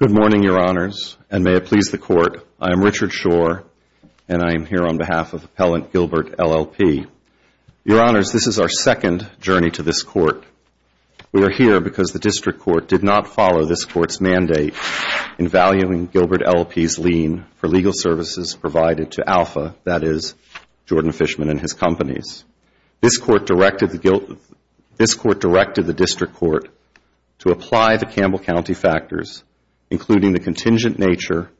Good morning, Your Honors, and may it please the Court, I am Richard Shore, and I am here on behalf of Appellant Gilbert LLP. Your Honors, this is our second journey to this Court. We are here because the District Court did not follow this Court's mandate in valuing Gilbert LLP's lien for legal services provided to Alpha, that is, Jordan Fishman and his to apply the Campbell County factors, including the contingent nature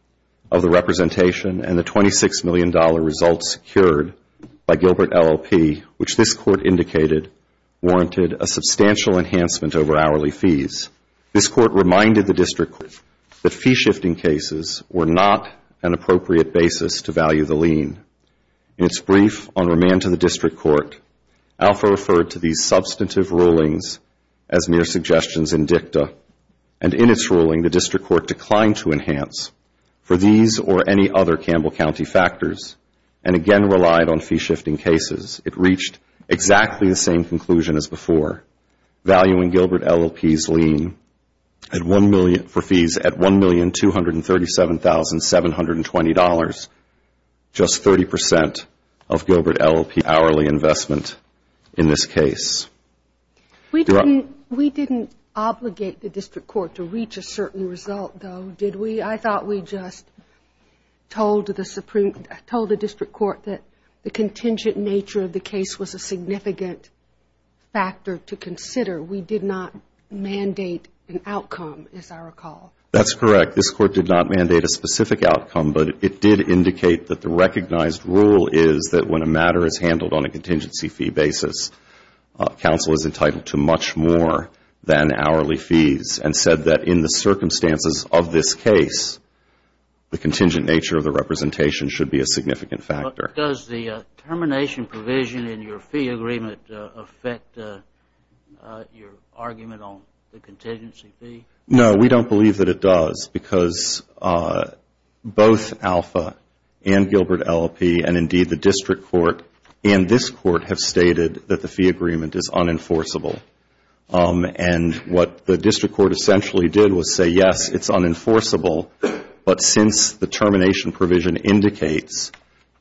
of the representation and the $26 million results secured by Gilbert LLP, which this Court indicated warranted a substantial enhancement over hourly fees. This Court reminded the District Court that fee-shifting cases were not an appropriate basis to value the lien. In its brief on remand to the District Court, Alpha referred to these substantive rulings as mere suggestions in dicta, and in its ruling, the District Court declined to enhance for these or any other Campbell County factors and again relied on fee-shifting cases. It reached exactly the same conclusion as before, valuing Gilbert LLP's lien for fees at $1,237,720, just 30% of Gilbert LLP's hourly investment in this case. We didn't obligate the District Court to reach a certain result, though, did we? I thought we just told the District Court that the contingent nature of the case was a significant factor to consider. We did not mandate an outcome, as I recall. That's correct. This Court did not mandate a specific outcome, but it did indicate that the recognized rule is that when a matter is handled on a contingency fee basis, counsel is entitled to much more than hourly fees and said that in the circumstances of this case, the contingent nature of the representation should be a significant factor. Does the termination provision in your fee agreement affect your argument on the contingency fee? No, we don't believe that it does because both ALFA and Gilbert LLP and indeed the District Court and this Court have stated that the fee agreement is unenforceable. What the District Court essentially did was say, yes, it's unenforceable, but since the termination provision indicates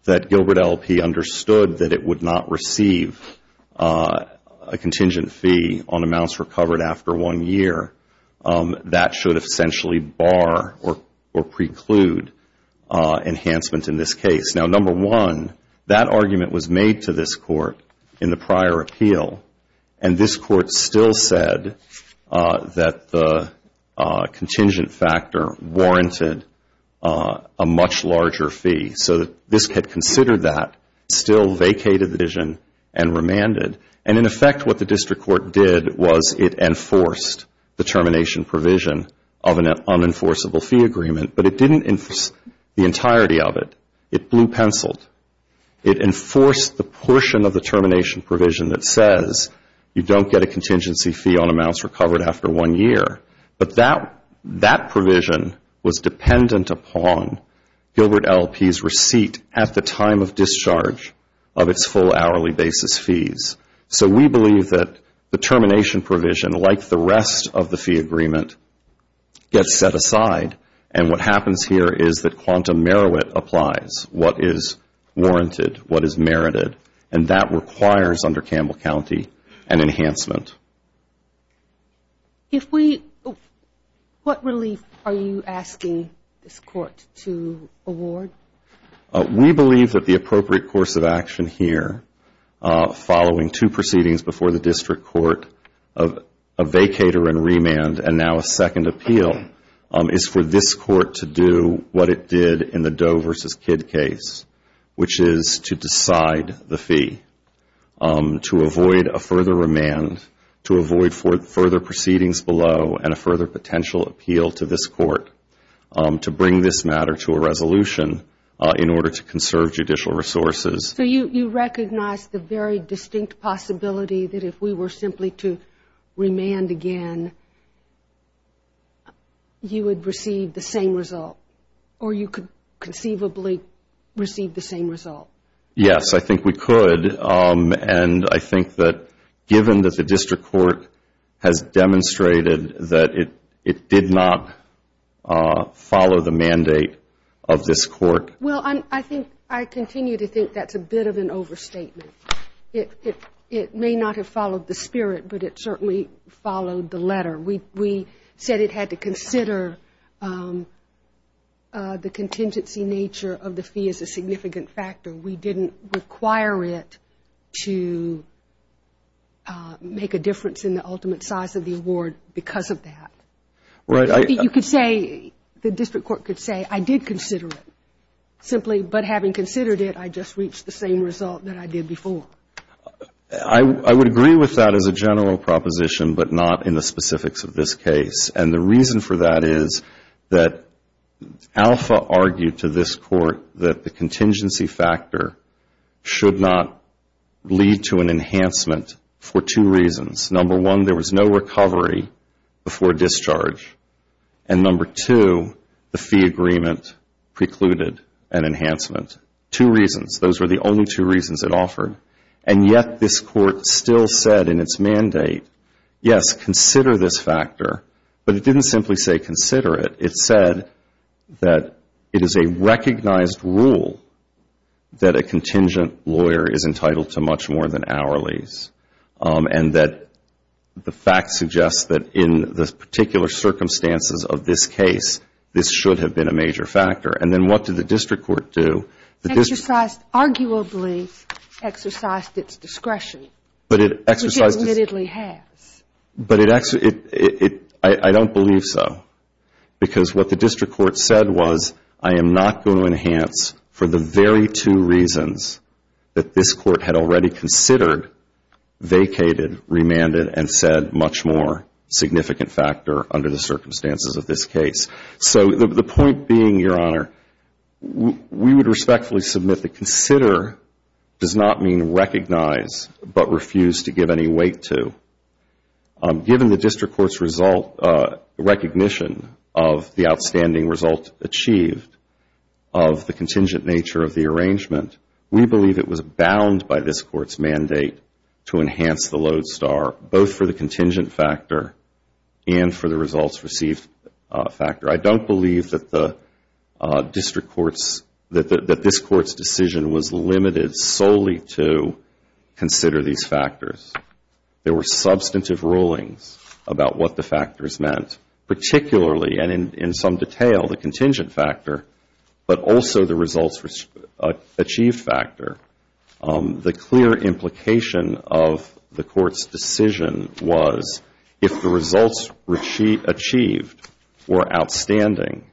that Gilbert LLP understood that it would not receive a contingent fee on amounts recovered after one year, that should essentially bar or preclude enhancement in this case. Now, number one, that argument was made to this Court in the prior appeal, and this Court still said that the contingent factor warranted a much larger fee. So this had considered that, still vacated the provision and remanded. In effect, what the District Court did was it enforced the termination provision of an unenforceable fee agreement, but it didn't enforce the entirety of it. It blew pencil. It enforced the portion of the termination provision that says you don't get a contingency fee on amounts recovered after one year, but that provision was dependent upon Gilbert LLP's receipt at the time of discharge of its full hourly basis fees. So we believe that the termination provision, like the rest of the fee agreement, gets set aside and what happens here is that quantum merit applies, what is warranted, what is merited, and that requires under Campbell County an enhancement. If we, what relief are you asking this Court to award? We believe that the appropriate course of action here, following two proceedings before the District Court, a vacater and remand, and now a second appeal, is for this Court to do what it did in the Doe v. Kidd case, which is to decide the fee, to avoid a further remand, to avoid further proceedings below, and a further potential appeal to this Court to bring this matter to a resolution in order to conserve judicial resources. So you recognize the very distinct possibility that if we were simply to remand again, you would receive the same result, or you could conceivably receive the same result? Yes, I think we could, and I think that given that the District Court has demonstrated that it did not follow the mandate of this Court. Well, I think, I continue to think that's a bit of an overstatement. It may not have followed the spirit, but it certainly followed the letter. We said it had to consider the award. We didn't require it to make a difference in the ultimate size of the award because of that. Right. You could say, the District Court could say, I did consider it, simply, but having considered it, I just reached the same result that I did before. I would agree with that as a general proposition, but not in the specifics of this case. And the reason for that is that Alpha argued to this Court that the contingency factor should not lead to an enhancement for two reasons. Number one, there was no recovery before discharge, and number two, the fee agreement precluded an enhancement. Two reasons. Those were the only two reasons it offered, and yet this Court still said in its mandate, yes, consider this factor, but it didn't simply say consider it. It said that it is a recognized rule that a contingent lawyer is entitled to much more than hourlies, and that the fact suggests that in the particular circumstances of this case, this should have been a major factor. And then what did the District Court do? It exercised, arguably, exercised its discretion, which it admittedly has. But I don't believe so, because what the District Court said was, I am not going to enhance for the very two reasons that this Court had already considered, vacated, remanded, and said much more significant factor under the circumstances of this case. So the point being, Your Honor, we would respectfully submit that consider does not mean recognize, but refuse to give any weight to. Given the District Court's recognition of the outstanding result achieved of the contingent nature of the arrangement, we believe it was bound by this Court's mandate to enhance the load star, both for the contingent factor and for the results received factor. I don't believe that the District Court's, that this Court's decision was limited solely to consider these factors. There were substantive rulings about what the factors meant, particularly and in some detail, the contingent factor, but also the results achieved factor. The clear implication of the Court's decision was, if the results achieved were outstanding,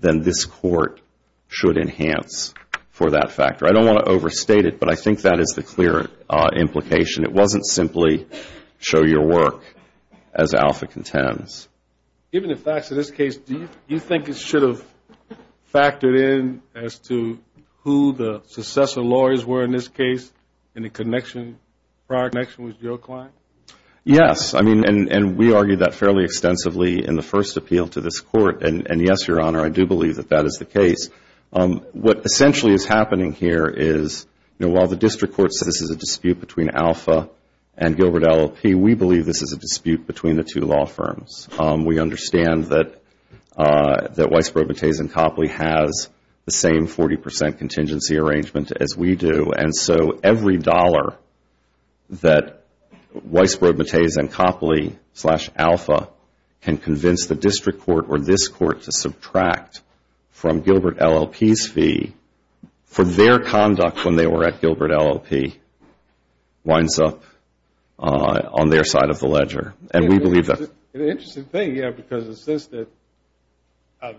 then this Court should enhance for that factor. I don't want to overstate it, but I think that is the clear implication. It wasn't simply, show your work, as Alpha contends. Given the facts of this case, do you think it should have factored in as to who the successor lawyers were in this case, in the connection, prior connection with your client? Yes, and we argued that fairly extensively in the first appeal to this Court, and yes, Your Honor, I do believe that that is the case. What essentially is happening here is, while the District Court says this is a dispute between Alpha and Gilbert LLP, we believe this is a dispute between the two law firms. We understand that Weisbrod, Bates, and Copley has the same 40 percent contingency arrangement as we do, and so every dollar that we have Weisbrod, Bates, and Copley, slash Alpha, can convince the District Court or this Court to subtract from Gilbert LLP's fee for their conduct when they were at Gilbert LLP, winds up on their side of the ledger, and we believe that. An interesting thing, yes, because it's just that,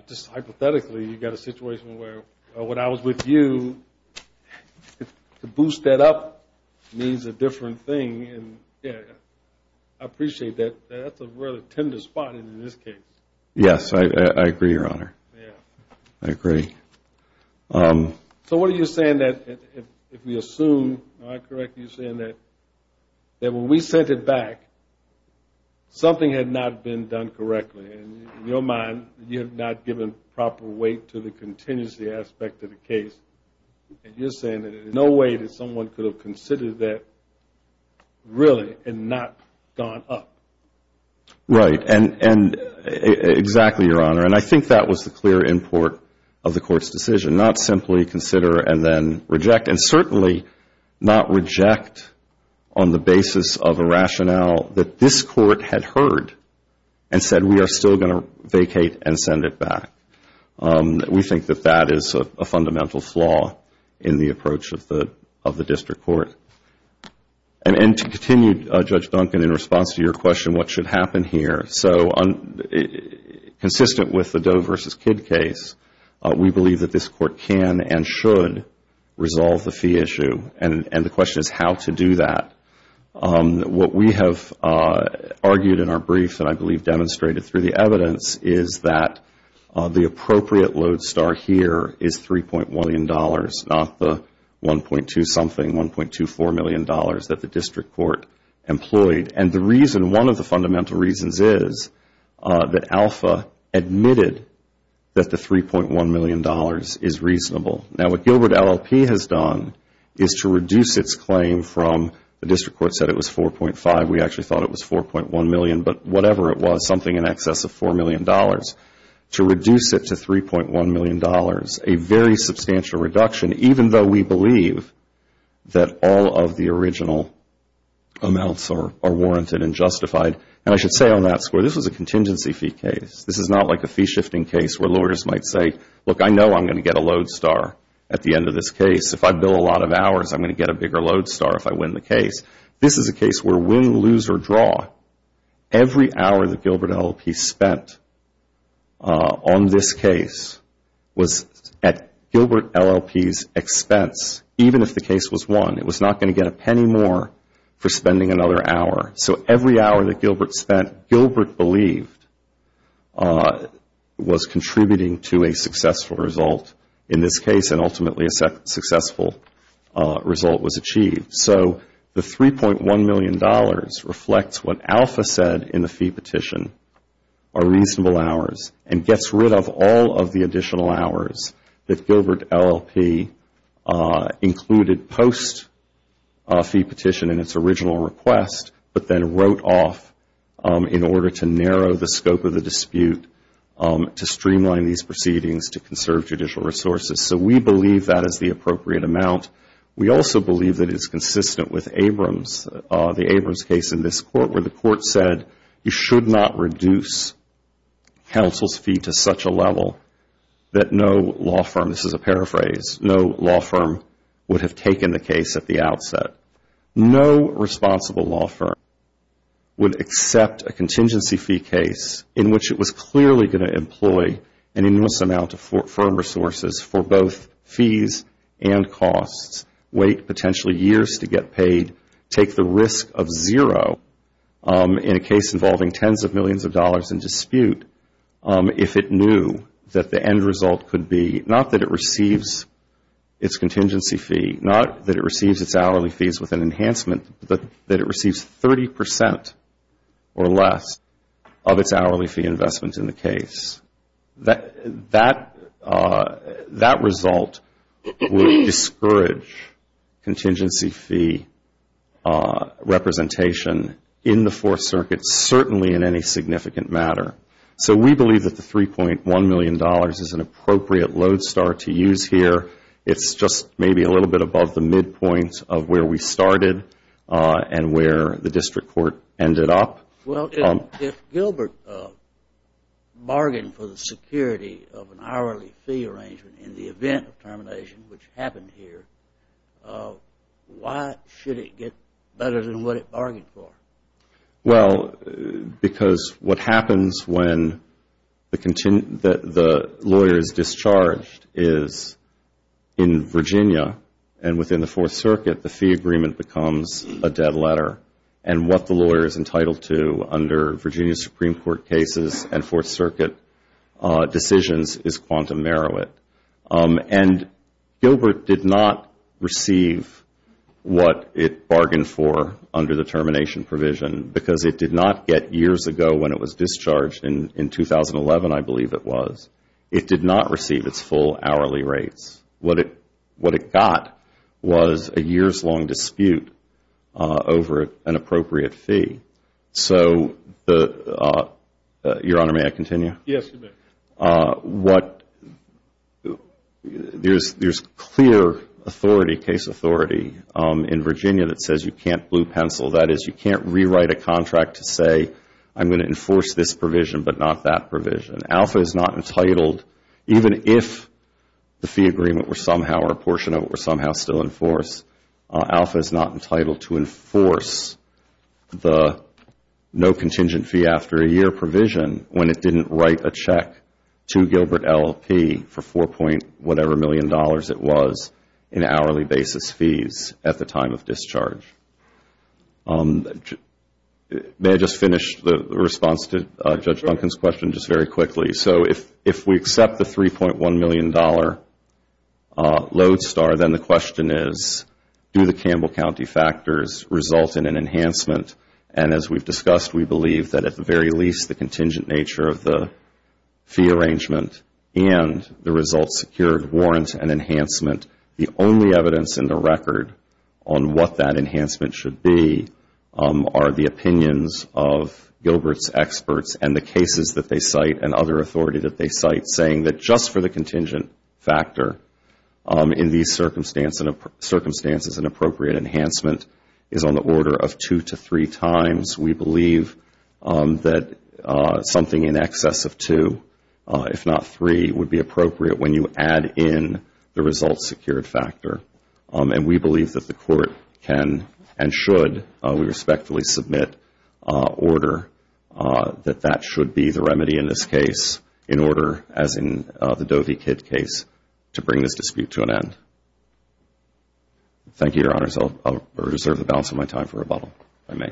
just hypothetically, you've got a situation where when I was with you, to boost that up means a different thing, and I think that I appreciate that that's a really tender spot in this case. Yes, I agree, Your Honor. I agree. So what are you saying that, if we assume, am I correct in saying that when we sent it back, something had not been done correctly, and in your mind, you have not given proper weight to the contingency aspect of the case, and you're saying that there's no way that you would consider that, really, and not gone up? Right, and exactly, Your Honor, and I think that was the clear import of the Court's decision, not simply consider and then reject, and certainly not reject on the basis of a rationale that this Court had heard and said, we are still going to vacate and send it back. We think that that is a fundamental flaw in the approach of the District Court. And to continue, Judge Duncan, in response to your question, what should happen here, so consistent with the Doe versus Kidd case, we believe that this Court can and should resolve the fee issue, and the question is how to do that. What we have argued in our brief, and I believe demonstrated through the evidence, is that the appropriate load star here is $3.1 million, not the $1.2 something, $1.24 million that the District Court employed, and the reason, one of the fundamental reasons is that Alpha admitted that the $3.1 million is reasonable. Now, what Gilbert LLP has done is to reduce its claim from, the District Court said it was $4.5 million, we actually thought it was $4.1 million, but whatever it was, something in excess of $4 million, to reduce it to $3.1 million, a very substantial reduction, even though we believe that all of the original amounts are warranted and justified, and I should say on that score, this was a contingency fee case. This is not like a fee shifting case where lawyers might say, look, I know I am going to get a load star at the end of this case. If I bill a lot of hours, I am going to get a bigger load star if I win the case. This is a case where win, lose, or draw, every hour that Gilbert LLP spent on this case was at Gilbert LLP's expense, even if the case was won. It was not going to get a penny more for spending another hour. So every hour that Gilbert spent, Gilbert believed, was contributing to a successful result in this case, and ultimately a successful result was achieved. So the $3.1 million reflects what Alpha said in the fee petition, are reasonable hours, and gets rid of all of the additional hours that Gilbert LLP included post-fee petition in its original request, but then wrote off in order to narrow the scope of the dispute, to streamline these proceedings, to conserve judicial resources. So we believe that is the appropriate amount. We also believe that it is consistent with the Abrams case in this court, where the court said you should not reduce counsel's fee to such a level that no law firm, this is a paraphrase, no law firm would have taken the case at the outset. No responsible law firm would accept a contingency fee case in which it was clearly going to cost, wait potentially years to get paid, take the risk of zero in a case involving tens of millions of dollars in dispute if it knew that the end result could be, not that it receives its contingency fee, not that it receives its hourly fees with an enhancement, that it receives 30 percent or less of its hourly fee investment in the case. That result will discourage contingency fee representation in the Fourth Circuit, certainly in any significant matter. So we believe that the $3.1 million is an appropriate lodestar to use here. It's just maybe a little bit above the midpoint of where we started and where the district court ended up. Well, if Gilbert bargained for the security of an hourly fee arrangement in the event of termination, which happened here, why should it get better than what it bargained for? Well, because what happens when the lawyer is discharged is in Virginia and within the Virginia Supreme Court cases and Fourth Circuit decisions is quantum meruit. And Gilbert did not receive what it bargained for under the termination provision because it did not get years ago when it was discharged in 2011, I believe it was. It did not receive its full hourly rates. What it got was a years-long dispute over an appropriate fee. So Your Honor, may I continue? Yes, you may. There's clear authority, case authority in Virginia that says you can't blue pencil. That is, you can't rewrite a contract to say I'm going to enforce this provision but not that provision. Alpha is not entitled, even if the fee agreement were somehow or a portion of it were somehow still enforced, alpha is not entitled to enforce the no contingent fee after a year provision when it didn't write a check to Gilbert LLP for $4. whatever million it was in hourly basis fees at the time of discharge. May I just finish the response to Judge Duncan's question just very quickly? So if we accept the $3.1 million load star, then the question is, do the Campbell County factors result in an enhancement and as we've discussed, we believe that at the very least the contingent nature of the fee arrangement and the result secured warrants an enhancement. The only evidence in the record on what that enhancement should be are the opinions of Gilbert's experts and the cases that they cite and other authority that they cite saying that just for the contingent factor in these circumstances, an appropriate enhancement is on the order of two to three times. We believe that something in excess of two, if not three, would be appropriate when you have a secured factor and we believe that the court can and should, we respectfully submit order that that should be the remedy in this case in order, as in the Dovey Kidd case, to bring this dispute to an end. Thank you, Your Honors. I'll reserve the balance of my time for rebuttal, if I may.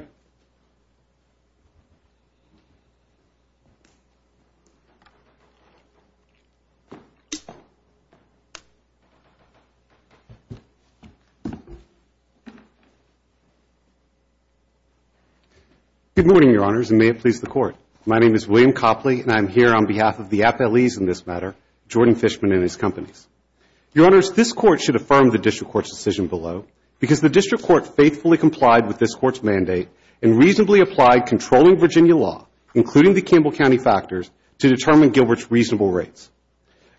Good morning, Your Honors, and may it please the Court. My name is William Copley and I'm here on behalf of the appellees in this matter, Jordan Fishman and his companies. Your Honors, this Court should affirm the District Court's decision below because the District Court faithfully complied with this Court's mandate and reasonably applied controlling Virginia law, including the Campbell County factors, to determine Gilbert's reasonable rates.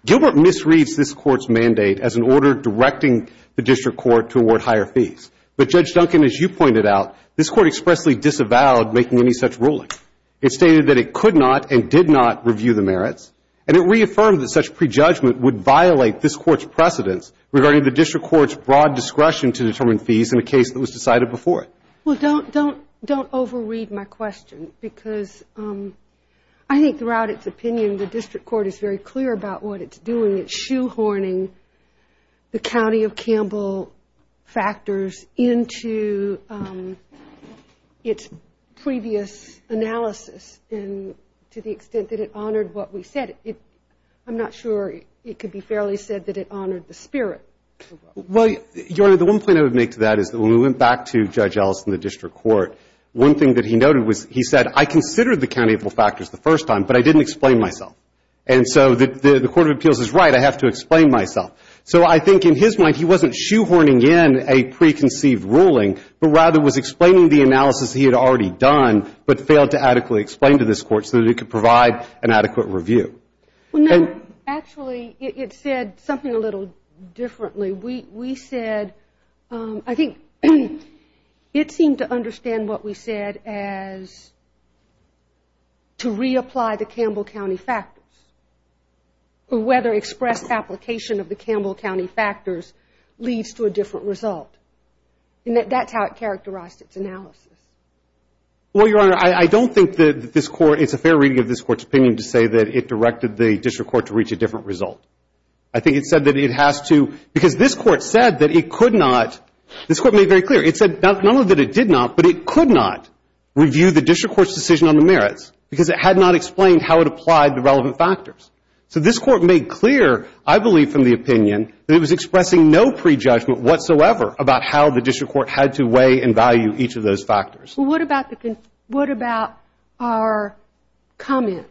Gilbert misreads this Court's mandate as an order directing the District Court to award higher fees, but Judge Duncan, as you pointed out, this Court expressly disavowed making any such ruling. It stated that it could not and did not review the merits and it reaffirmed that such prejudgment would violate this Court's precedence regarding the District Court's broad discretion to determine fees in a case that was decided before it. Well, don't overread my question because I think throughout its opinion, the District Court is very clear about what it's doing. It's shoehorning the County of Campbell factors into its previous analysis and to the extent that it honored what we said. I'm not sure it could be fairly said that it honored the spirit. Well, Your Honor, the one point I would make to that is that when we went back to Judge Ellison in the District Court, one thing that he noted was he said, I considered the County of Campbell factors the first time, but I didn't explain myself. And so the Court of Appeals is right, I have to explain myself. So I think in his mind, he wasn't shoehorning in a preconceived ruling, but rather was explaining the analysis he had already done, but failed to adequately explain to this Court so that it could provide an adequate review. Well, no, actually it said something a little differently. We said, I think it seemed to reapply the Campbell County factors, but whether express application of the Campbell County factors leads to a different result. And that's how it characterized its analysis. Well, Your Honor, I don't think that this Court, it's a fair reading of this Court's opinion to say that it directed the District Court to reach a different result. I think it said that it has to, because this Court said that it could not, this Court made very clear, it said not only that it did not, but it could not review the District Court's decision on the merits, because it had not explained how it applied the relevant factors. So this Court made clear, I believe from the opinion, that it was expressing no prejudgment whatsoever about how the District Court had to weigh and value each of those factors. Well, what about the, what about our comment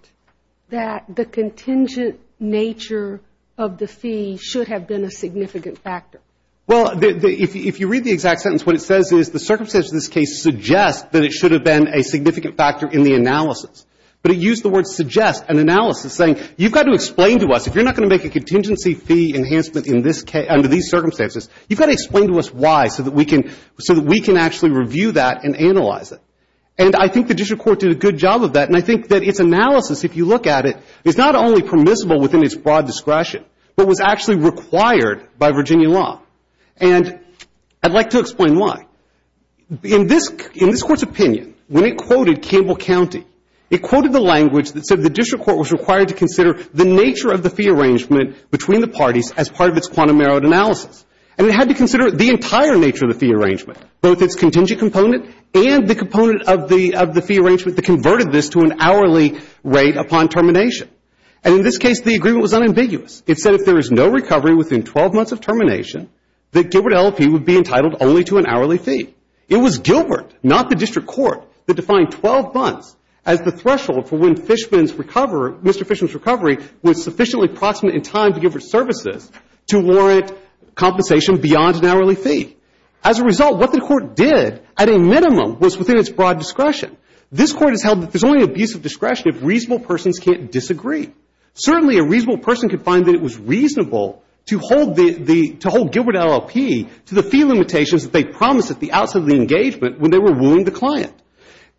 that the contingent nature of the fee should have been a significant factor? Well, if you read the exact sentence, what it says is the circumstances of this case suggest that it should have been a significant factor in the analysis. But it used the word suggest and analysis, saying you've got to explain to us, if you're not going to make a contingency fee enhancement in this case, under these circumstances, you've got to explain to us why so that we can, so that we can actually review that and analyze it. And I think the District Court did a good job of that, and I think that its analysis, if you look at it, is not only permissible within its broad discretion, but was actually required by Virginia law. And I'd like to explain why. In this, in this Court's opinion, when it quoted Campbell County, it quoted the language that said the District Court was required to consider the nature of the fee arrangement between the parties as part of its quantum narrowed analysis. And it had to consider the entire nature of the fee arrangement, both its contingent component and the component of the, of the fee arrangement that converted this to an hourly rate upon termination. And in this case, the agreement was unambiguous. It said if there is no recovery within 12 months of termination, that Gilbert LLP would be entitled only to an hourly fee. It was Gilbert, not the District Court, that defined 12 months as the threshold for when Fishman's recovery, Mr. Fishman's recovery, was sufficiently proximate in time to give his services to warrant compensation beyond an hourly fee. As a result, what the Court did, at a minimum, was within its broad discretion. This Court has held that there's only abuse of discretion if reasonable persons can't disagree. Certainly a reasonable person could find that it was reasonable to hold the, the, to hold Gilbert LLP to the fee limitations that they promised at the outset of the engagement when they were wooing the client.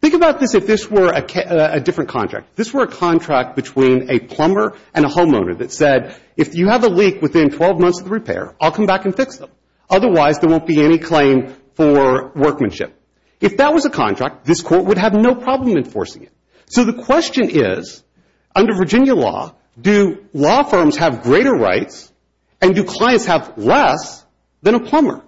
Think about this if this were a different contract. If this were a contract between a plumber and a homeowner that said, if you have a leak within 12 months of the repair, I'll come back and fix them. Otherwise, there won't be any claim for workmanship. If that was a contract, this Court would have no problem enforcing it. So, the question is, under Virginia law, do law firms have greater rights and do clients have less than a plumber?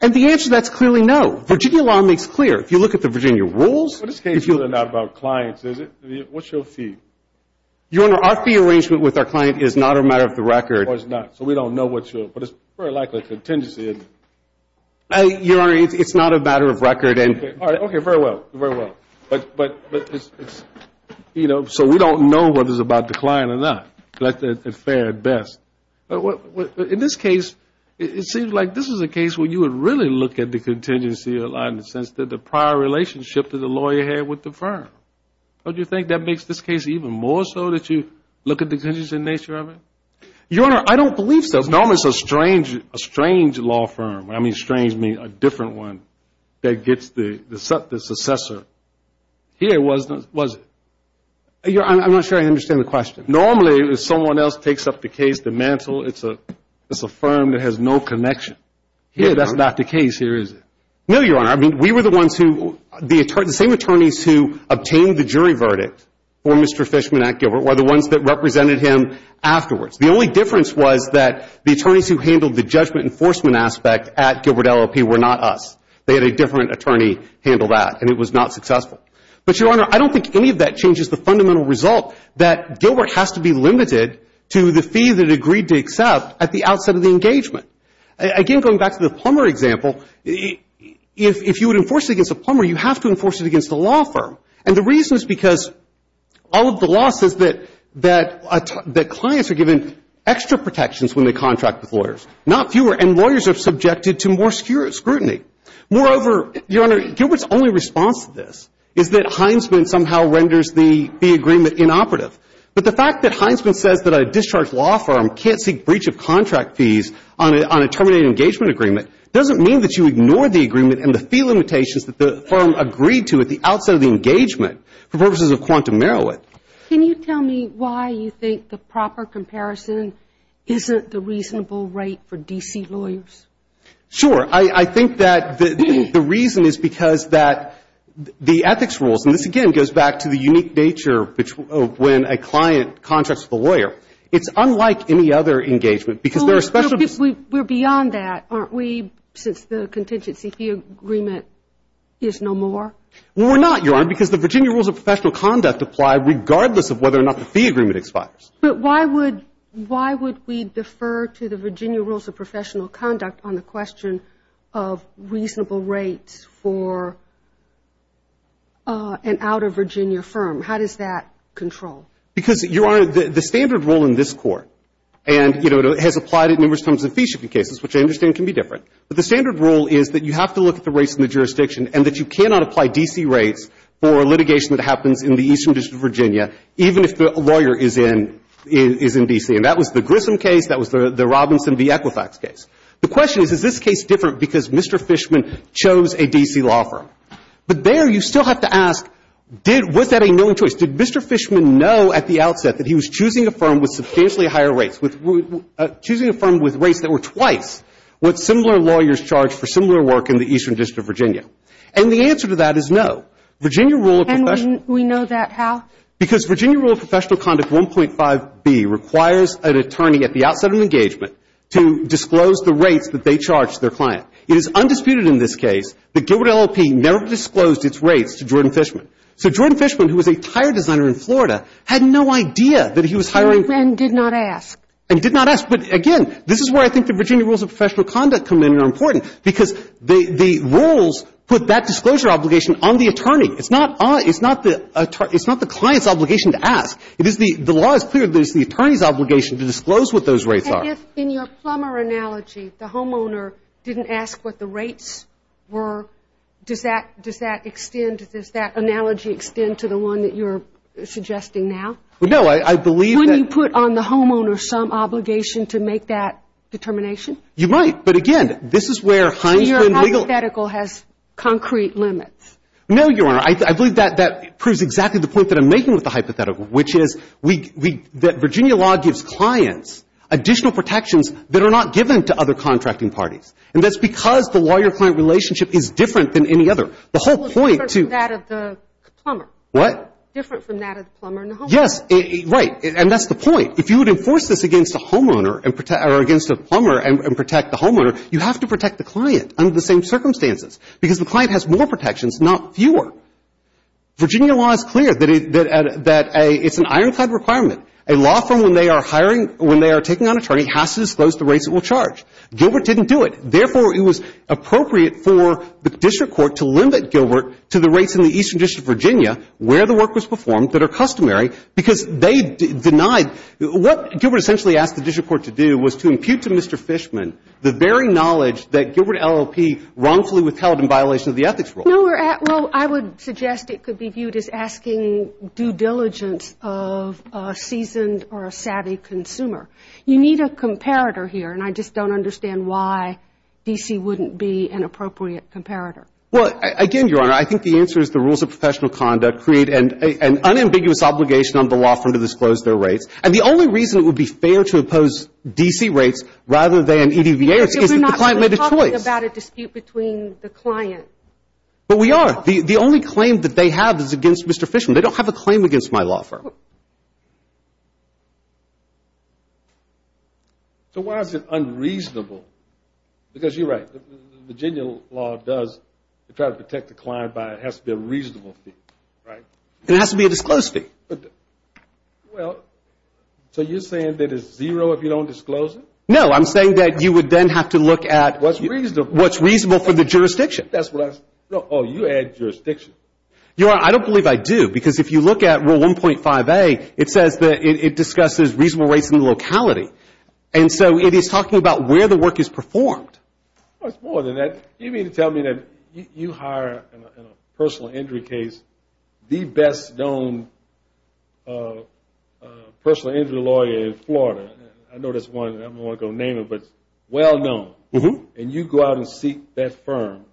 And the answer to that is clearly no. Virginia law makes clear, if you look at the Virginia rules. But what's the issue here, not about clients, is it? What's your fee? Your Honor, our fee arrangement with our client is not a matter of the record. Well, it's not. So, we don't know what your, but it's very likely a contingency, is it? Your Honor, it's not a matter of record. Okay, very well, very well. But it's, you know, so we don't know whether it's about the client or not. It's fair at best. In this case, it seems like this is a case where you would really look at the contingency in the sense that the prior relationship that the lawyer had with the firm. Don't you think that makes this case even more so that you look at the contingency in nature of it? Your Honor, I don't believe so. Normally, it's a strange law firm, and I mean strange means a different one, that gets the successor. Here it wasn't, was it? I'm not sure I understand the question. Normally, someone else takes up the case, the mantle. It's a firm that has no connection. Here, that's not the case, here is it? No, Your Honor. I mean, we were the ones who, the same attorneys who obtained the jury verdict for Mr. Fishman at Gilbert were the ones that represented him afterwards. The only difference was that the attorneys who handled the judgment enforcement aspect at Gilbert LLP were not us. They had a different attorney handle that, and it was not successful. But Your Honor, I don't think any of that changes the fundamental result that Gilbert has to be limited to the fee that it agreed to accept at the outset of the engagement. Again, going back to the plumber example, if you would enforce it against a plumber, you have to enforce it against a law firm. And the reason is because all of the law says that clients are given extra protections when they contract with lawyers, not fewer, and lawyers are subjected to more scrutiny. Moreover, Your Honor, Gilbert's only response to this is that Heinsman somehow renders the fee agreement inoperative. But the fact that Heinsman says that a discharged law firm can't seek breach of contract fees on a terminated engagement agreement doesn't mean that you ignore the agreement and the fee limitations that the firm agreed to at the outset of the engagement for purposes of quantum merriment. Can you tell me why you think the proper comparison isn't the reasonable rate for D.C. lawyers? Sure. I think that the reason is because that the ethics rules, and this again goes back to the unique nature when a client contracts with a lawyer, it's unlike any other engagement because there are special We're beyond that, aren't we, since the contingency fee agreement is no more? Well, we're not, Your Honor, because the Virginia rules of professional conduct apply regardless of whether or not the fee agreement expires. But why would we defer to the Virginia rules of professional conduct on the question of reasonable rates for an outer Virginia firm? How does that control? Because, Your Honor, the standard rule in this Court, and, you know, it has applied at numerous times in fee-shipping cases, which I understand can be different, but the standard rule is that you have to look at the rates in the jurisdiction and that you cannot apply D.C. rates for litigation that happens in the Eastern District of Virginia even if the lawyer is in D.C. And that was the Grissom case, that was the Robinson v. Equifax case. The question is, is this case different because Mr. Fishman chose a D.C. law firm? But there you still have to ask, was that a known choice? Did Mr. Fishman know at the outset that he was choosing a firm with substantially higher rates, choosing a firm with rates that were twice what similar lawyers charge for similar work in the Eastern District of Virginia? And the answer to that is no. Virginia rule of professional conduct... And we know that how? Because Virginia rule of professional conduct 1.5b requires an attorney at the outset of an engagement to disclose the rates that they charge their client. It is undisputed in this case that Gilbert LLP never disclosed its rates to Jordan Fishman. So Jordan Fishman, who was a tire designer in Florida, had no idea that he was hiring... And did not ask. And did not ask. But again, this is where I think the Virginia rules of professional conduct come in and are important, because the rules put that disclosure obligation on the attorney. It's not the client's obligation to ask. The law is clear that it's the attorney's obligation to disclose what those rates are. And if, in your Plummer analogy, the homeowner didn't ask what the rates were, does that extend, does that analogy extend to the one that you're suggesting now? No. I believe that... Is there some obligation to make that determination? You might. But again, this is where Heinsman legal... So your hypothetical has concrete limits? No, Your Honor. I believe that proves exactly the point that I'm making with the hypothetical, which is that Virginia law gives clients additional protections that are not given to other contracting parties. And that's because the lawyer-client relationship is different than any other. The whole point to... Well, it's different from that of the Plummer. What? Different from that of the Plummer and the homeowner. Yes. Right. And that's the point. If you would enforce this against a homeowner and protect or against a Plummer and protect the homeowner, you have to protect the client under the same circumstances, because the client has more protections, not fewer. Virginia law is clear that it's an ironclad requirement. A law firm, when they are hiring or when they are taking on an attorney, has to disclose the rates it will charge. Gilbert didn't do it. Therefore, it was appropriate for the district court to limit Gilbert to the rates in the Eastern District of Virginia where the work was performed that are customary, because they denied. What Gilbert essentially asked the district court to do was to impute to Mr. Fishman the very knowledge that Gilbert LLP wrongfully withheld in violation of the ethics rule. No, we're at — well, I would suggest it could be viewed as asking due diligence of a seasoned or a savvy consumer. You need a comparator here, and I just don't understand why D.C. wouldn't be an appropriate comparator. Well, again, Your Honor, I think the answer is the rules of professional conduct create an unambiguous obligation on the law firm to disclose their rates. And the only reason it would be fair to oppose D.C. rates rather than EDVA rates is that the client made a choice. We're not talking about a dispute between the client. But we are. The only claim that they have is against Mr. Fishman. They don't have a claim against my law firm. So why is it unreasonable? Because you're right, the Virginia law does try to protect the client by — it has to be a reasonable fee, right? It has to be a disclosed fee. Well, so you're saying that it's zero if you don't disclose it? No, I'm saying that you would then have to look at — What's reasonable. What's reasonable for the jurisdiction. That's what I — oh, you add jurisdiction. Your Honor, I don't believe I do. Because if you look at Rule 1.5A, it says that it discusses reasonable rates in the locality. And so it is talking about where the work is performed. Well, it's more than that. You mean to tell me that you hire in a personal injury case the best known personal injury lawyer in Florida. I know there's one, I don't want to go name it, but well known. And you go out and seek that firm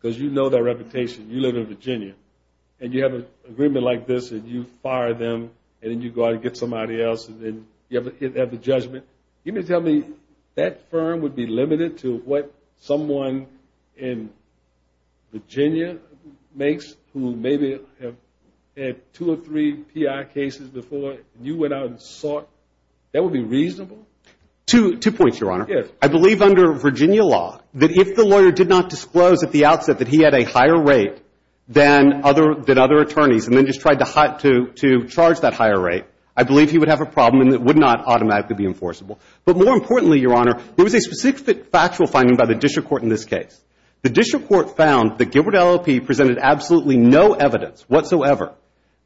because you know their reputation. You live in Virginia. And you have an agreement like this and you fire them and then you go out and get somebody else and then you have the judgment. You mean to tell me that firm would be limited to what someone in Virginia makes who maybe had two or three PI cases before and you went out and sought? That would be reasonable? Two points, Your Honor. I believe under Virginia law that if the lawyer did not disclose at the outset that he had a higher rate than other attorneys and then just tried to charge that higher rate, I believe he would have a problem and it would not automatically be enforceable. But more importantly, Your Honor, there was a specific factual finding by the district court in this case. The district court found that Gilbert LLP presented absolutely no evidence whatsoever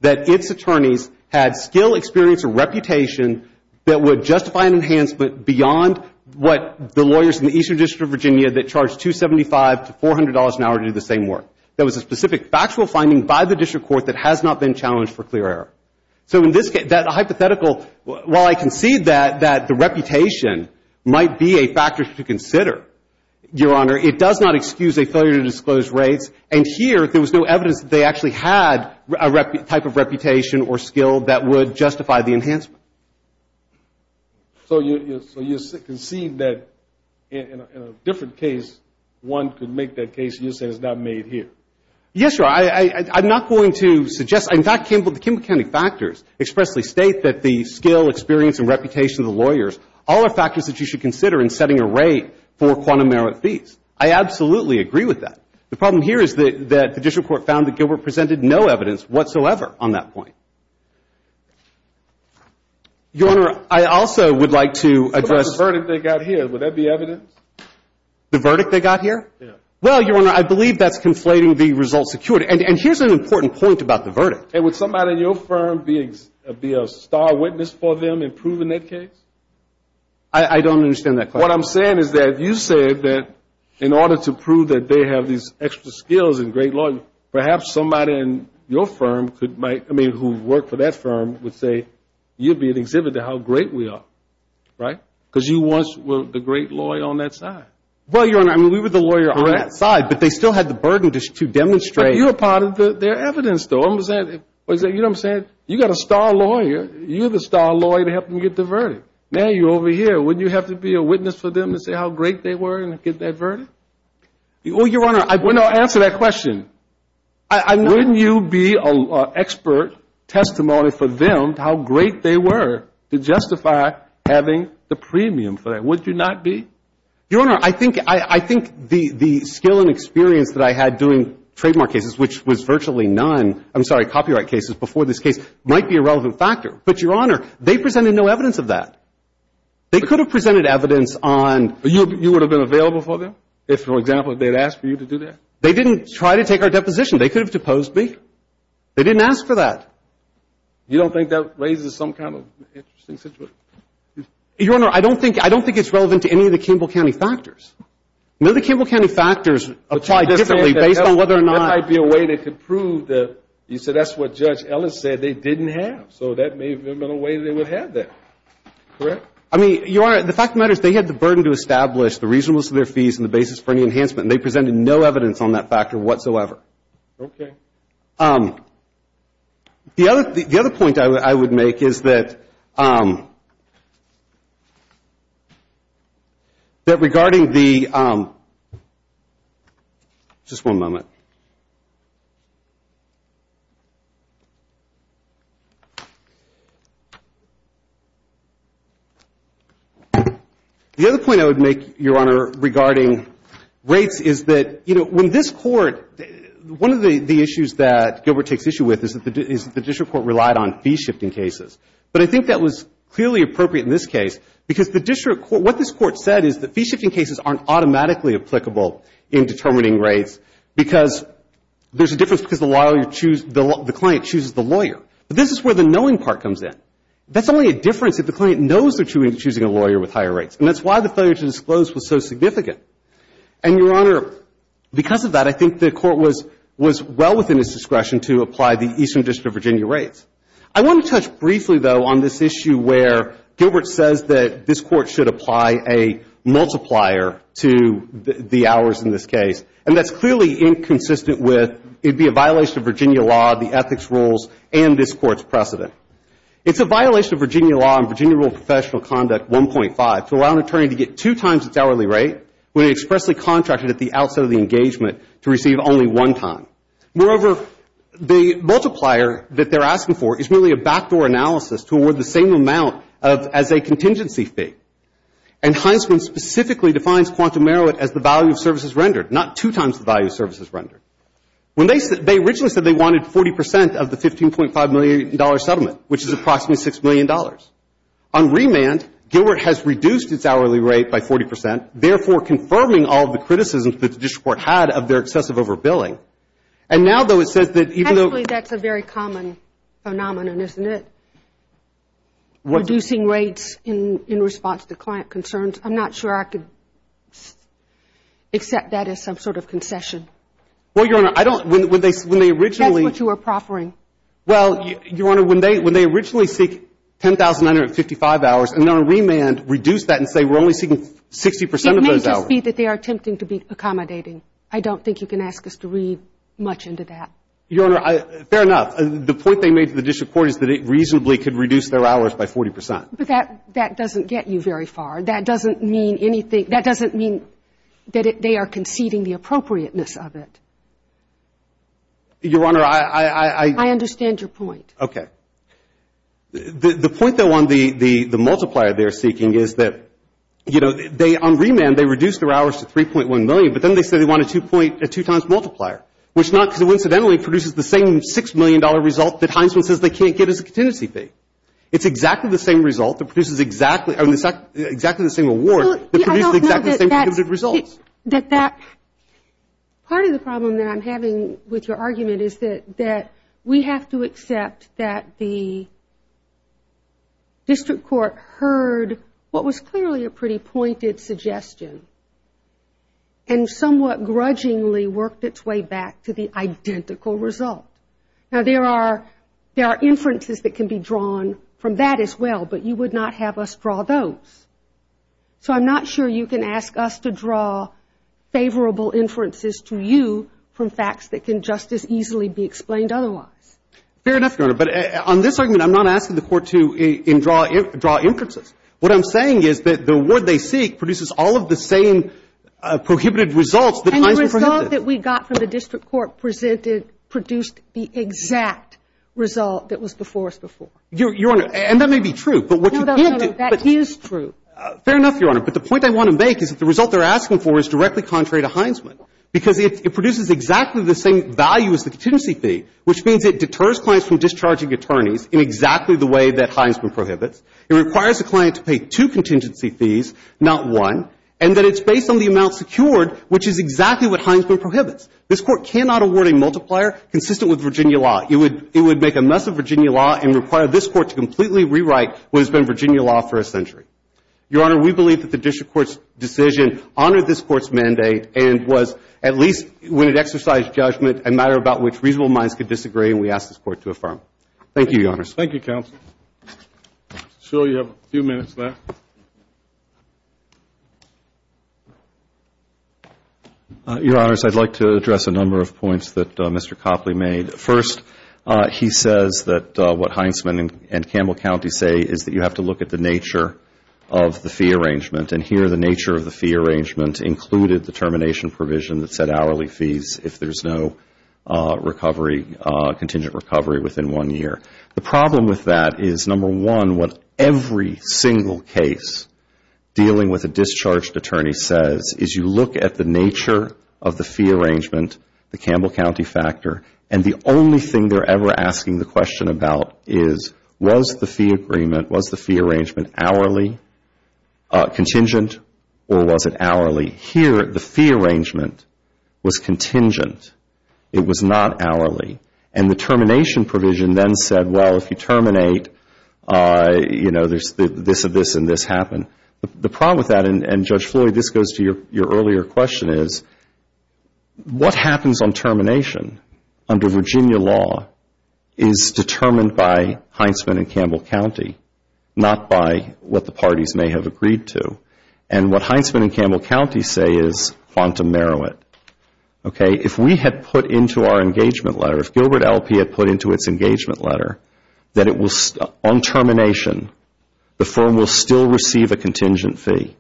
that its attorneys had skill, experience, or reputation that would justify an enhancement beyond what the lawyers in the Eastern District of Virginia that charge $275 to $400 an hour do the same work. There was a specific factual finding by the district court that has not been challenged for clear error. So in this case, that hypothetical, while I concede that the reputation might be a factor to consider, Your Honor, it does not excuse a failure to disclose rates. And here there was no evidence that they actually had a type of reputation or skill that would justify the enhancement. So you concede that in a different case, one could make that case and you say it's not made here? Yes, Your Honor. I'm not going to suggest. In fact, the Kimball County factors expressly state that the skill, experience, and reputation of the lawyers, all are factors that you should consider in setting a rate for quantum merit fees. I absolutely agree with that. The problem here is that the district court found that Gilbert presented no evidence whatsoever on that point. Your Honor, I also would like to address... What about the verdict they got here? Would that be evidence? The verdict they got here? Yes. Well, Your Honor, I believe that's conflating the result security. And here's an important point about the verdict. Hey, would somebody in your firm be a star witness for them in proving that case? I don't understand that question. What I'm saying is that you said that in order to prove that they have these extra skills and great lawyers, perhaps somebody in your firm who worked for that firm would say you'd be an exhibit to how great we are, right? Because you once were the great lawyer on that side. Well, Your Honor, I mean, we were the lawyer on that side, but they still had the burden to demonstrate. But you're a part of their evidence, though. You know what I'm saying? You've got a star lawyer. You're the star lawyer to help them get the verdict. Now you're over here. Wouldn't you have to be a witness for them to say how great they were and get that verdict? Well, Your Honor, I'm going to answer that question. Wouldn't you be an expert testimony for them to how great they were to justify having the premium for that? Would you not be? Your Honor, I think the skill and experience that I had doing trademark cases, which was virtually none, I'm sorry, copyright cases before this case, might be a relevant factor. But Your Honor, they presented no evidence of that. They could have presented evidence on But you would have been available for them if, for example, they had asked for you to do that? They didn't try to take our deposition. They could have deposed me. They didn't ask for that. You don't think that raises some kind of interesting situation? Your Honor, I don't think it's relevant to any of the Campbell County factors. None of the Campbell County factors apply differently based on whether or not That might be a way they could prove that you said that's what Judge Ellis said they didn't have. So that may have been a way they would have that. Correct? I mean, Your Honor, the fact of the matter is they had the burden to establish the reasonableness of their fees and the basis for any enhancement, and they presented no evidence on that factor whatsoever. Okay. The other point I would make is that regarding the Just one moment. The other point I would make, Your Honor, regarding rates is that, you know, when this Court One of the issues that Gilbert takes issue with is that the district court relied on fee-shifting cases. But I think that was clearly appropriate in this case because the district court, what this court said is that fee-shifting cases aren't automatically applicable in determining rates because there's a difference because the lawyer chooses, the client chooses the lawyer. But this is where the knowing part comes in. That's only a difference if the client knows they're choosing a lawyer with higher rates. And that's why the failure to disclose was so significant. And, Your Honor, because of that, I think the Court was well within its discretion to apply the Eastern District of Virginia rates. I want to touch briefly, though, on this issue where Gilbert says that this Court should apply a multiplier to the hours in this case. And that's clearly inconsistent with, it'd be a violation of Virginia law, the ethics rules, and this Court's precedent. It's a violation of Virginia law and Virginia rule of professional conduct 1.5 to allow an attorney to get two times its hourly rate when he expressly contracted at the outset of the engagement to receive only one time. Moreover, the multiplier that they're asking for is really a backdoor analysis toward the same amount of, as a contingency fee. And Heinsman specifically defines quantum merit as the value of services rendered, not two times the value of services rendered. When they originally said they wanted 40 percent of the $15.5 million settlement, which is approximately $6 million. On remand, Gilbert has reduced its hourly rate by 40 percent, therefore confirming all of the criticisms that this Court had of their excessive over-billing. And now, though, it says that even though that's a very common phenomenon, isn't it? Reducing rates in response to client concerns. I'm not sure I could accept that as some sort of concession. Well, Your Honor, I don't. When they originally. That's what you were proffering. Well, Your Honor, when they originally seek 10,955 hours, and then on remand, reduce that and say we're only seeking 60 percent of those hours. It may just be that they are attempting to be accommodating. I don't think you can ask us to read much into that. Your Honor, fair enough. The point they made to the district court is that it reasonably could reduce their hours by 40 percent. But that doesn't get you very far. That doesn't mean anything. That doesn't mean that they are conceding the appropriateness of it. Your Honor, I. I understand your point. Okay. The point, though, on the multiplier they're seeking is that, you know, they, on remand, they reduced their hours to 3.1 million, but then they said they wanted a two-point, a two-times multiplier, which not coincidentally produces the same $6 million result that Heisman says they can't get as a contingency fee. It's exactly the same result that produces exactly the same award that produces exactly the same cumulative results. I don't know that that. Part of the problem that I'm having with your argument is that we have to accept that the district court heard what was clearly a pretty pointed suggestion and somewhat grudgingly worked its way back to the identical result. Now, there are inferences that can be drawn from that as well, but you would not have us draw those. So I'm not sure you can ask us to draw favorable inferences to you from facts that can just as easily be explained otherwise. Fair enough, Your Honor. But on this argument, I'm not asking the court to draw inferences. What I'm saying is that the award they seek produces all of the same prohibited results that Heisman prohibited. And the result that we got from the district court presented produced the exact result that was before us before. Your Honor, and that may be true. No, no, no. That is true. Fair enough, Your Honor. But the point I want to make is that the result they're asking for is directly contrary to Heisman because it produces exactly the same value as the contingency fee, which means it deters clients from discharging attorneys in exactly the way that Heisman prohibits. It requires the client to pay two contingency fees, not one, and that it's based on the amount secured, which is exactly what Heisman prohibits. This Court cannot award a multiplier consistent with Virginia law. It would make a mess of Virginia law and require this Court to completely rewrite what has been Virginia law for a century. Your Honor, we believe that the district court's decision honored this Court's mandate and was, at least when it exercised judgment, a matter about which reasonable minds could disagree, and we ask this Court to affirm. Thank you, Your Honor. Thank you, counsel. I'm sure you have a few minutes left. Your Honors, I'd like to address a number of points that Mr. Copley made. First, he says that what Heisman and Campbell County say is that you have to look at the nature of the fee arrangement, and here the nature of the fee arrangement included the termination provision that said hourly fees if there's no recovery, contingent recovery within one year. The problem with that is, number one, what every single case dealing with a discharged attorney says is you look at the nature of the fee arrangement, the Campbell County factor, and the only thing they're ever asking the question about is was the fee agreement, was the fee arrangement hourly, contingent, or was it hourly? Here, the fee arrangement was contingent. It was not hourly. And the termination provision then said, well, if you terminate, you know, there's this and this and this happened. The problem with that, and, Judge Floyd, this goes to your earlier question, is what happens on termination under Virginia law is determined by Heisman and Campbell County, not by what the parties may have agreed to. And what Heisman and Campbell County say is quantum merit. Okay? If we had put into our engagement letter, if Gilbert L.P. had put into its engagement letter that on termination, the firm will still receive a contingent fee,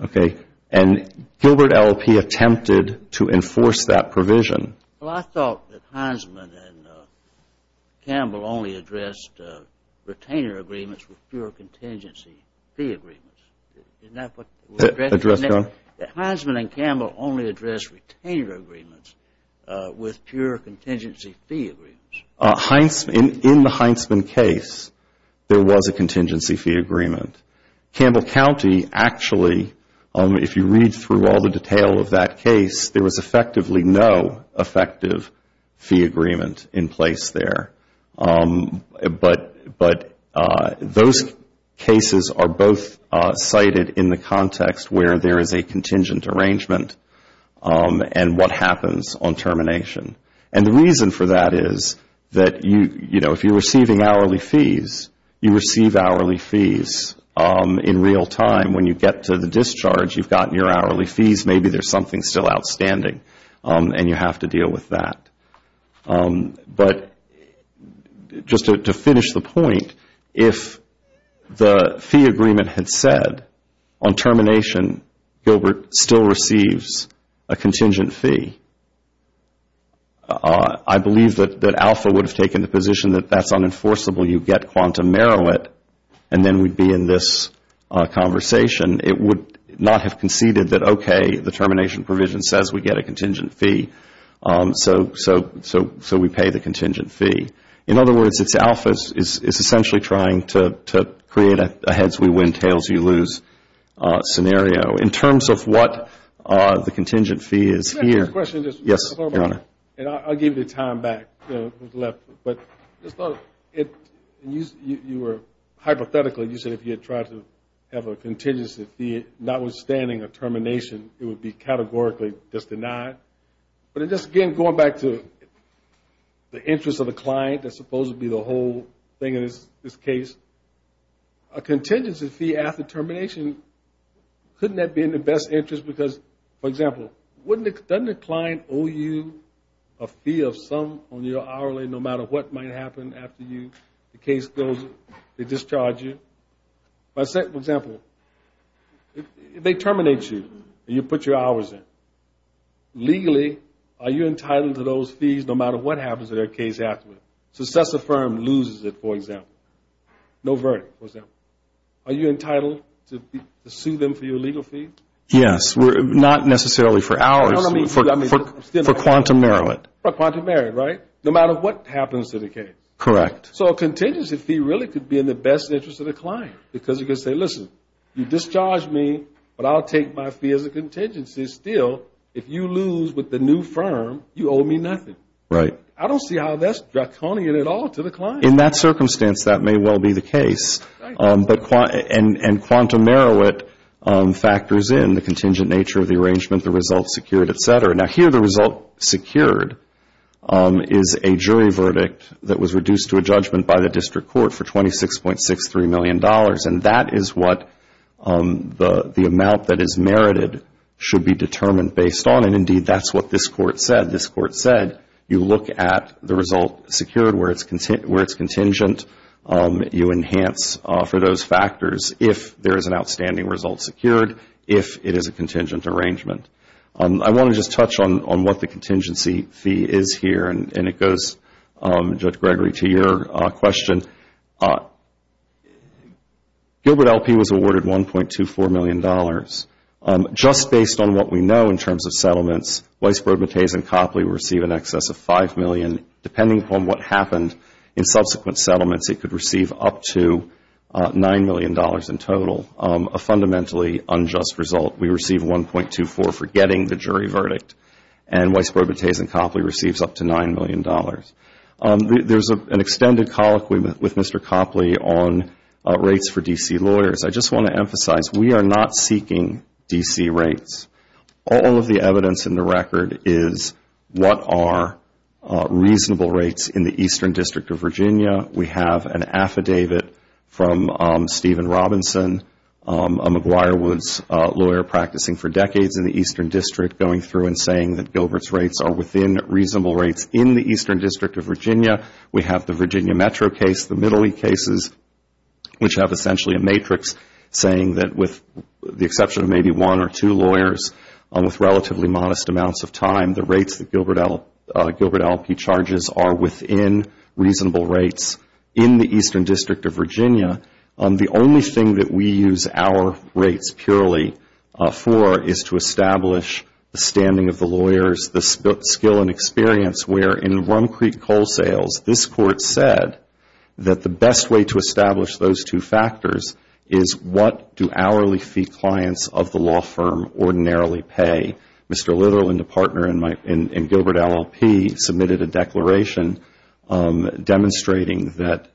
okay, and Gilbert L.P. attempted to enforce that provision. Well, I thought that Heisman and Campbell only addressed retainer agreements with fewer contingency fee agreements. Isn't that what they were addressing? That Heisman and Campbell only addressed retainer agreements with fewer contingency fee agreements. In the Heisman case, there was a contingency fee agreement. Campbell County actually, if you read through all the detail of that case, there was effectively no effective fee agreement in place there. But those cases are both cited in the context where there is a contingent arrangement and what happens on termination. And the reason for that is that, you know, if you're receiving hourly fees, you receive hourly fees in real time. When you get to the discharge, you've gotten your hourly fees. Maybe there's something still outstanding and you have to deal with that. But just to finish the point, if the fee agreement had said on termination, Gilbert still receives a contingent fee, I believe that Alpha would have taken the position that that's unenforceable. You get quantum merit and then we'd be in this conversation. It would not have conceded that, okay, the termination provision says we get a contingent fee. So we pay the contingent fee. In other words, it's Alpha is essentially trying to create a heads, we win, tails, you lose scenario. In terms of what the contingent fee is here. Can I ask you a question? Yes, Your Honor. And I'll give you time back. But you were, hypothetically, you said if you had tried to have a contingency fee, notwithstanding a termination, it would be categorically just denied. But just again, going back to the interest of the client, that's supposed to be the whole thing in this case. A contingency fee after termination, couldn't that be in the best interest because, for example, doesn't the client owe you a fee of some on your hourly no matter what might happen after you, the case goes, they discharge you? For example, they terminate you and you put your hours in. Legally, are you entitled to those fees no matter what happens to their case afterwards? Success affirmed, loses it, for example. No verdict, for example. Are you entitled to sue them for your legal fee? Yes, not necessarily for hours, for quantum merit. For quantum merit, right? No matter what happens to the case. Correct. So a contingency fee really could be in the best interest of the client because you could say, listen, you discharged me, but I'll take my fee as a contingency. Still, if you lose with the new firm, you owe me nothing. Right. I don't see how that's draconian at all to the client. In that circumstance, that may well be the case. And quantum merit factors in the contingent nature of the arrangement, the results secured, et cetera. Now, here the result secured is a jury verdict that was reduced to a judgment by the district court for $26.63 million. And that is what the amount that is merited should be determined based on. And, indeed, that's what this court said. This court said you look at the result secured where it's contingent, you enhance for those factors if there is an outstanding result secured, if it is a contingent arrangement. I want to just touch on what the contingency fee is here. And it goes, Judge Gregory, to your question. Gilbert LP was awarded $1.24 million. Just based on what we know in terms of settlements, Weisbrod, Mataze, and Copley received in excess of $5 million. Depending upon what happened in subsequent settlements, it could receive up to $9 million in total, a fundamentally unjust result. We receive $1.24 for getting the jury verdict. And Weisbrod, Mataze, and Copley receives up to $9 million. There is an extended colloquy with Mr. Copley on rates for D.C. lawyers. I just want to emphasize we are not seeking D.C. rates. All of the evidence in the record is what are reasonable rates in the Eastern District of Virginia. We have an affidavit from Stephen Robinson, a McGuire Woods lawyer practicing for decades in the Eastern District, going through and saying that Gilbert's rates are within reasonable rates in the Eastern District of Virginia. We have the Virginia Metro case, the Middle East cases, which have essentially a matrix saying that with the exception of maybe one or two lawyers with relatively modest amounts of time, the rates that Gilbert Allopee charges are within reasonable rates in the Eastern District of Virginia. The only thing that we use our rates purely for is to establish the standing of the lawyers, the skill and experience, where in Rum Creek Coal Sales, this Court said that the best way to establish those two factors is what do hourly fee clients of the law firm ordinarily pay. Mr. Little and a partner in Gilbert Allopee submitted a declaration demonstrating that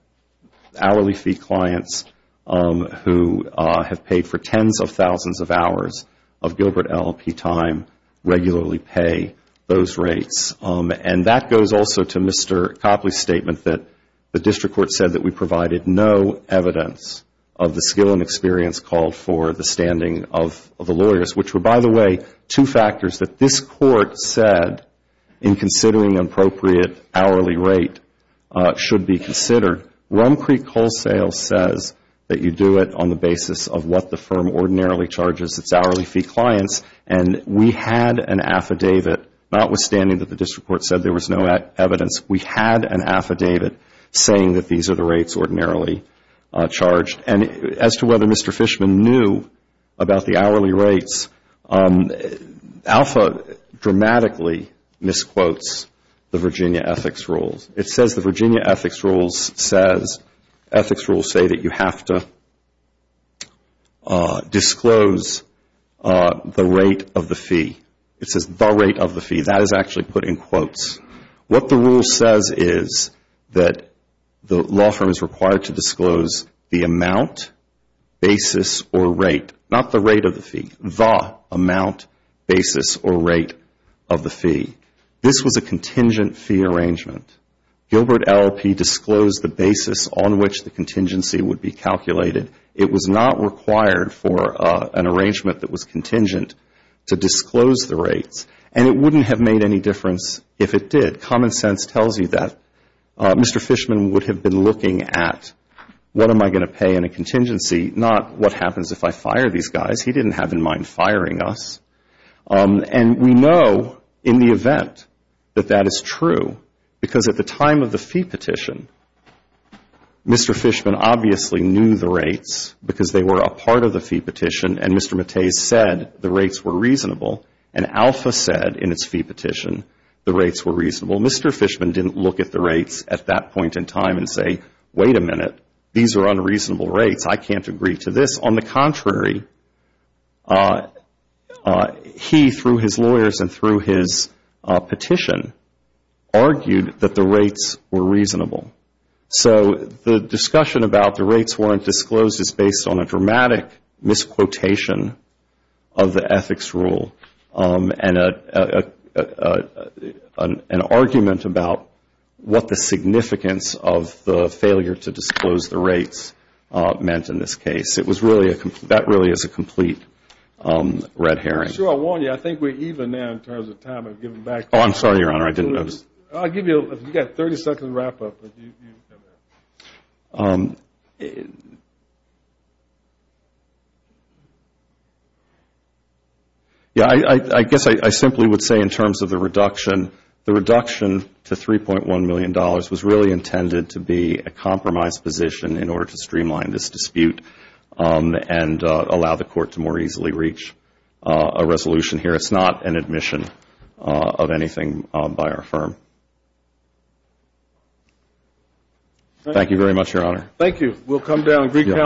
hourly fee clients who have paid for tens of thousands of hours of Gilbert Allopee time regularly pay those rates. And that goes also to Mr. Copley's statement that the district court said that we provided no evidence of the skill and experience called for the standing of the lawyers, which were by the way, two factors that this Court said in considering appropriate hourly rate should be considered. Rum Creek Coal Sales says that you do it on the basis of what the firm ordinarily charges its hourly fee clients and we had an affidavit notwithstanding that the district court said there was no evidence. We had an affidavit saying that these are the rates ordinarily charged. And as to whether Mr. Fishman knew about the hourly rates, ALFA dramatically misquotes the Virginia ethics rules. It says the Virginia ethics rules say that you have to disclose the rate of the fee. It says the rate of the fee. That is actually put in quotes. What the rule says is that the law firm is required to disclose the amount, basis, or rate, not the rate of the fee, the amount, basis, or rate of the fee. This was a contingent fee arrangement. Gilbert Allopee disclosed the basis on which the contingency would be calculated. It was not required for an arrangement that was contingent to disclose the rates. And it wouldn't have made any difference if it did. Common sense tells you that Mr. Fishman would have been looking at what am I going to pay in a contingency, not what happens if I fire these guys. He didn't have in mind firing us. And we know in the event that that is true because at the time of the fee petition, Mr. Fishman obviously knew the rates because they were a part of the fee petition and Mr. Mattez said the rates were reasonable and Alpha said in its fee petition the rates were reasonable. Mr. Fishman didn't look at the rates at that point in time and say, wait a minute, these are unreasonable rates. I can't agree to this. On the contrary, he, through his lawyers and through his petition, argued that the rates were reasonable. So the discussion about the rates weren't disclosed is based on a dramatic misquotation of the ethics rule and an argument about what the significance of the failure to disclose the rates meant in this case. That really is a complete red herring. I think we're even now in terms of time. I'm sorry, Your Honor, I didn't notice. I'll give you a 30-second wrap-up. I guess I simply would say in terms of the reduction, the reduction to $3.1 million was really intended to be a compromise position in order to streamline this dispute and allow the court to more easily reach a resolution here. It's not an admission of anything by our firm. Thank you very much, Your Honor. Thank you.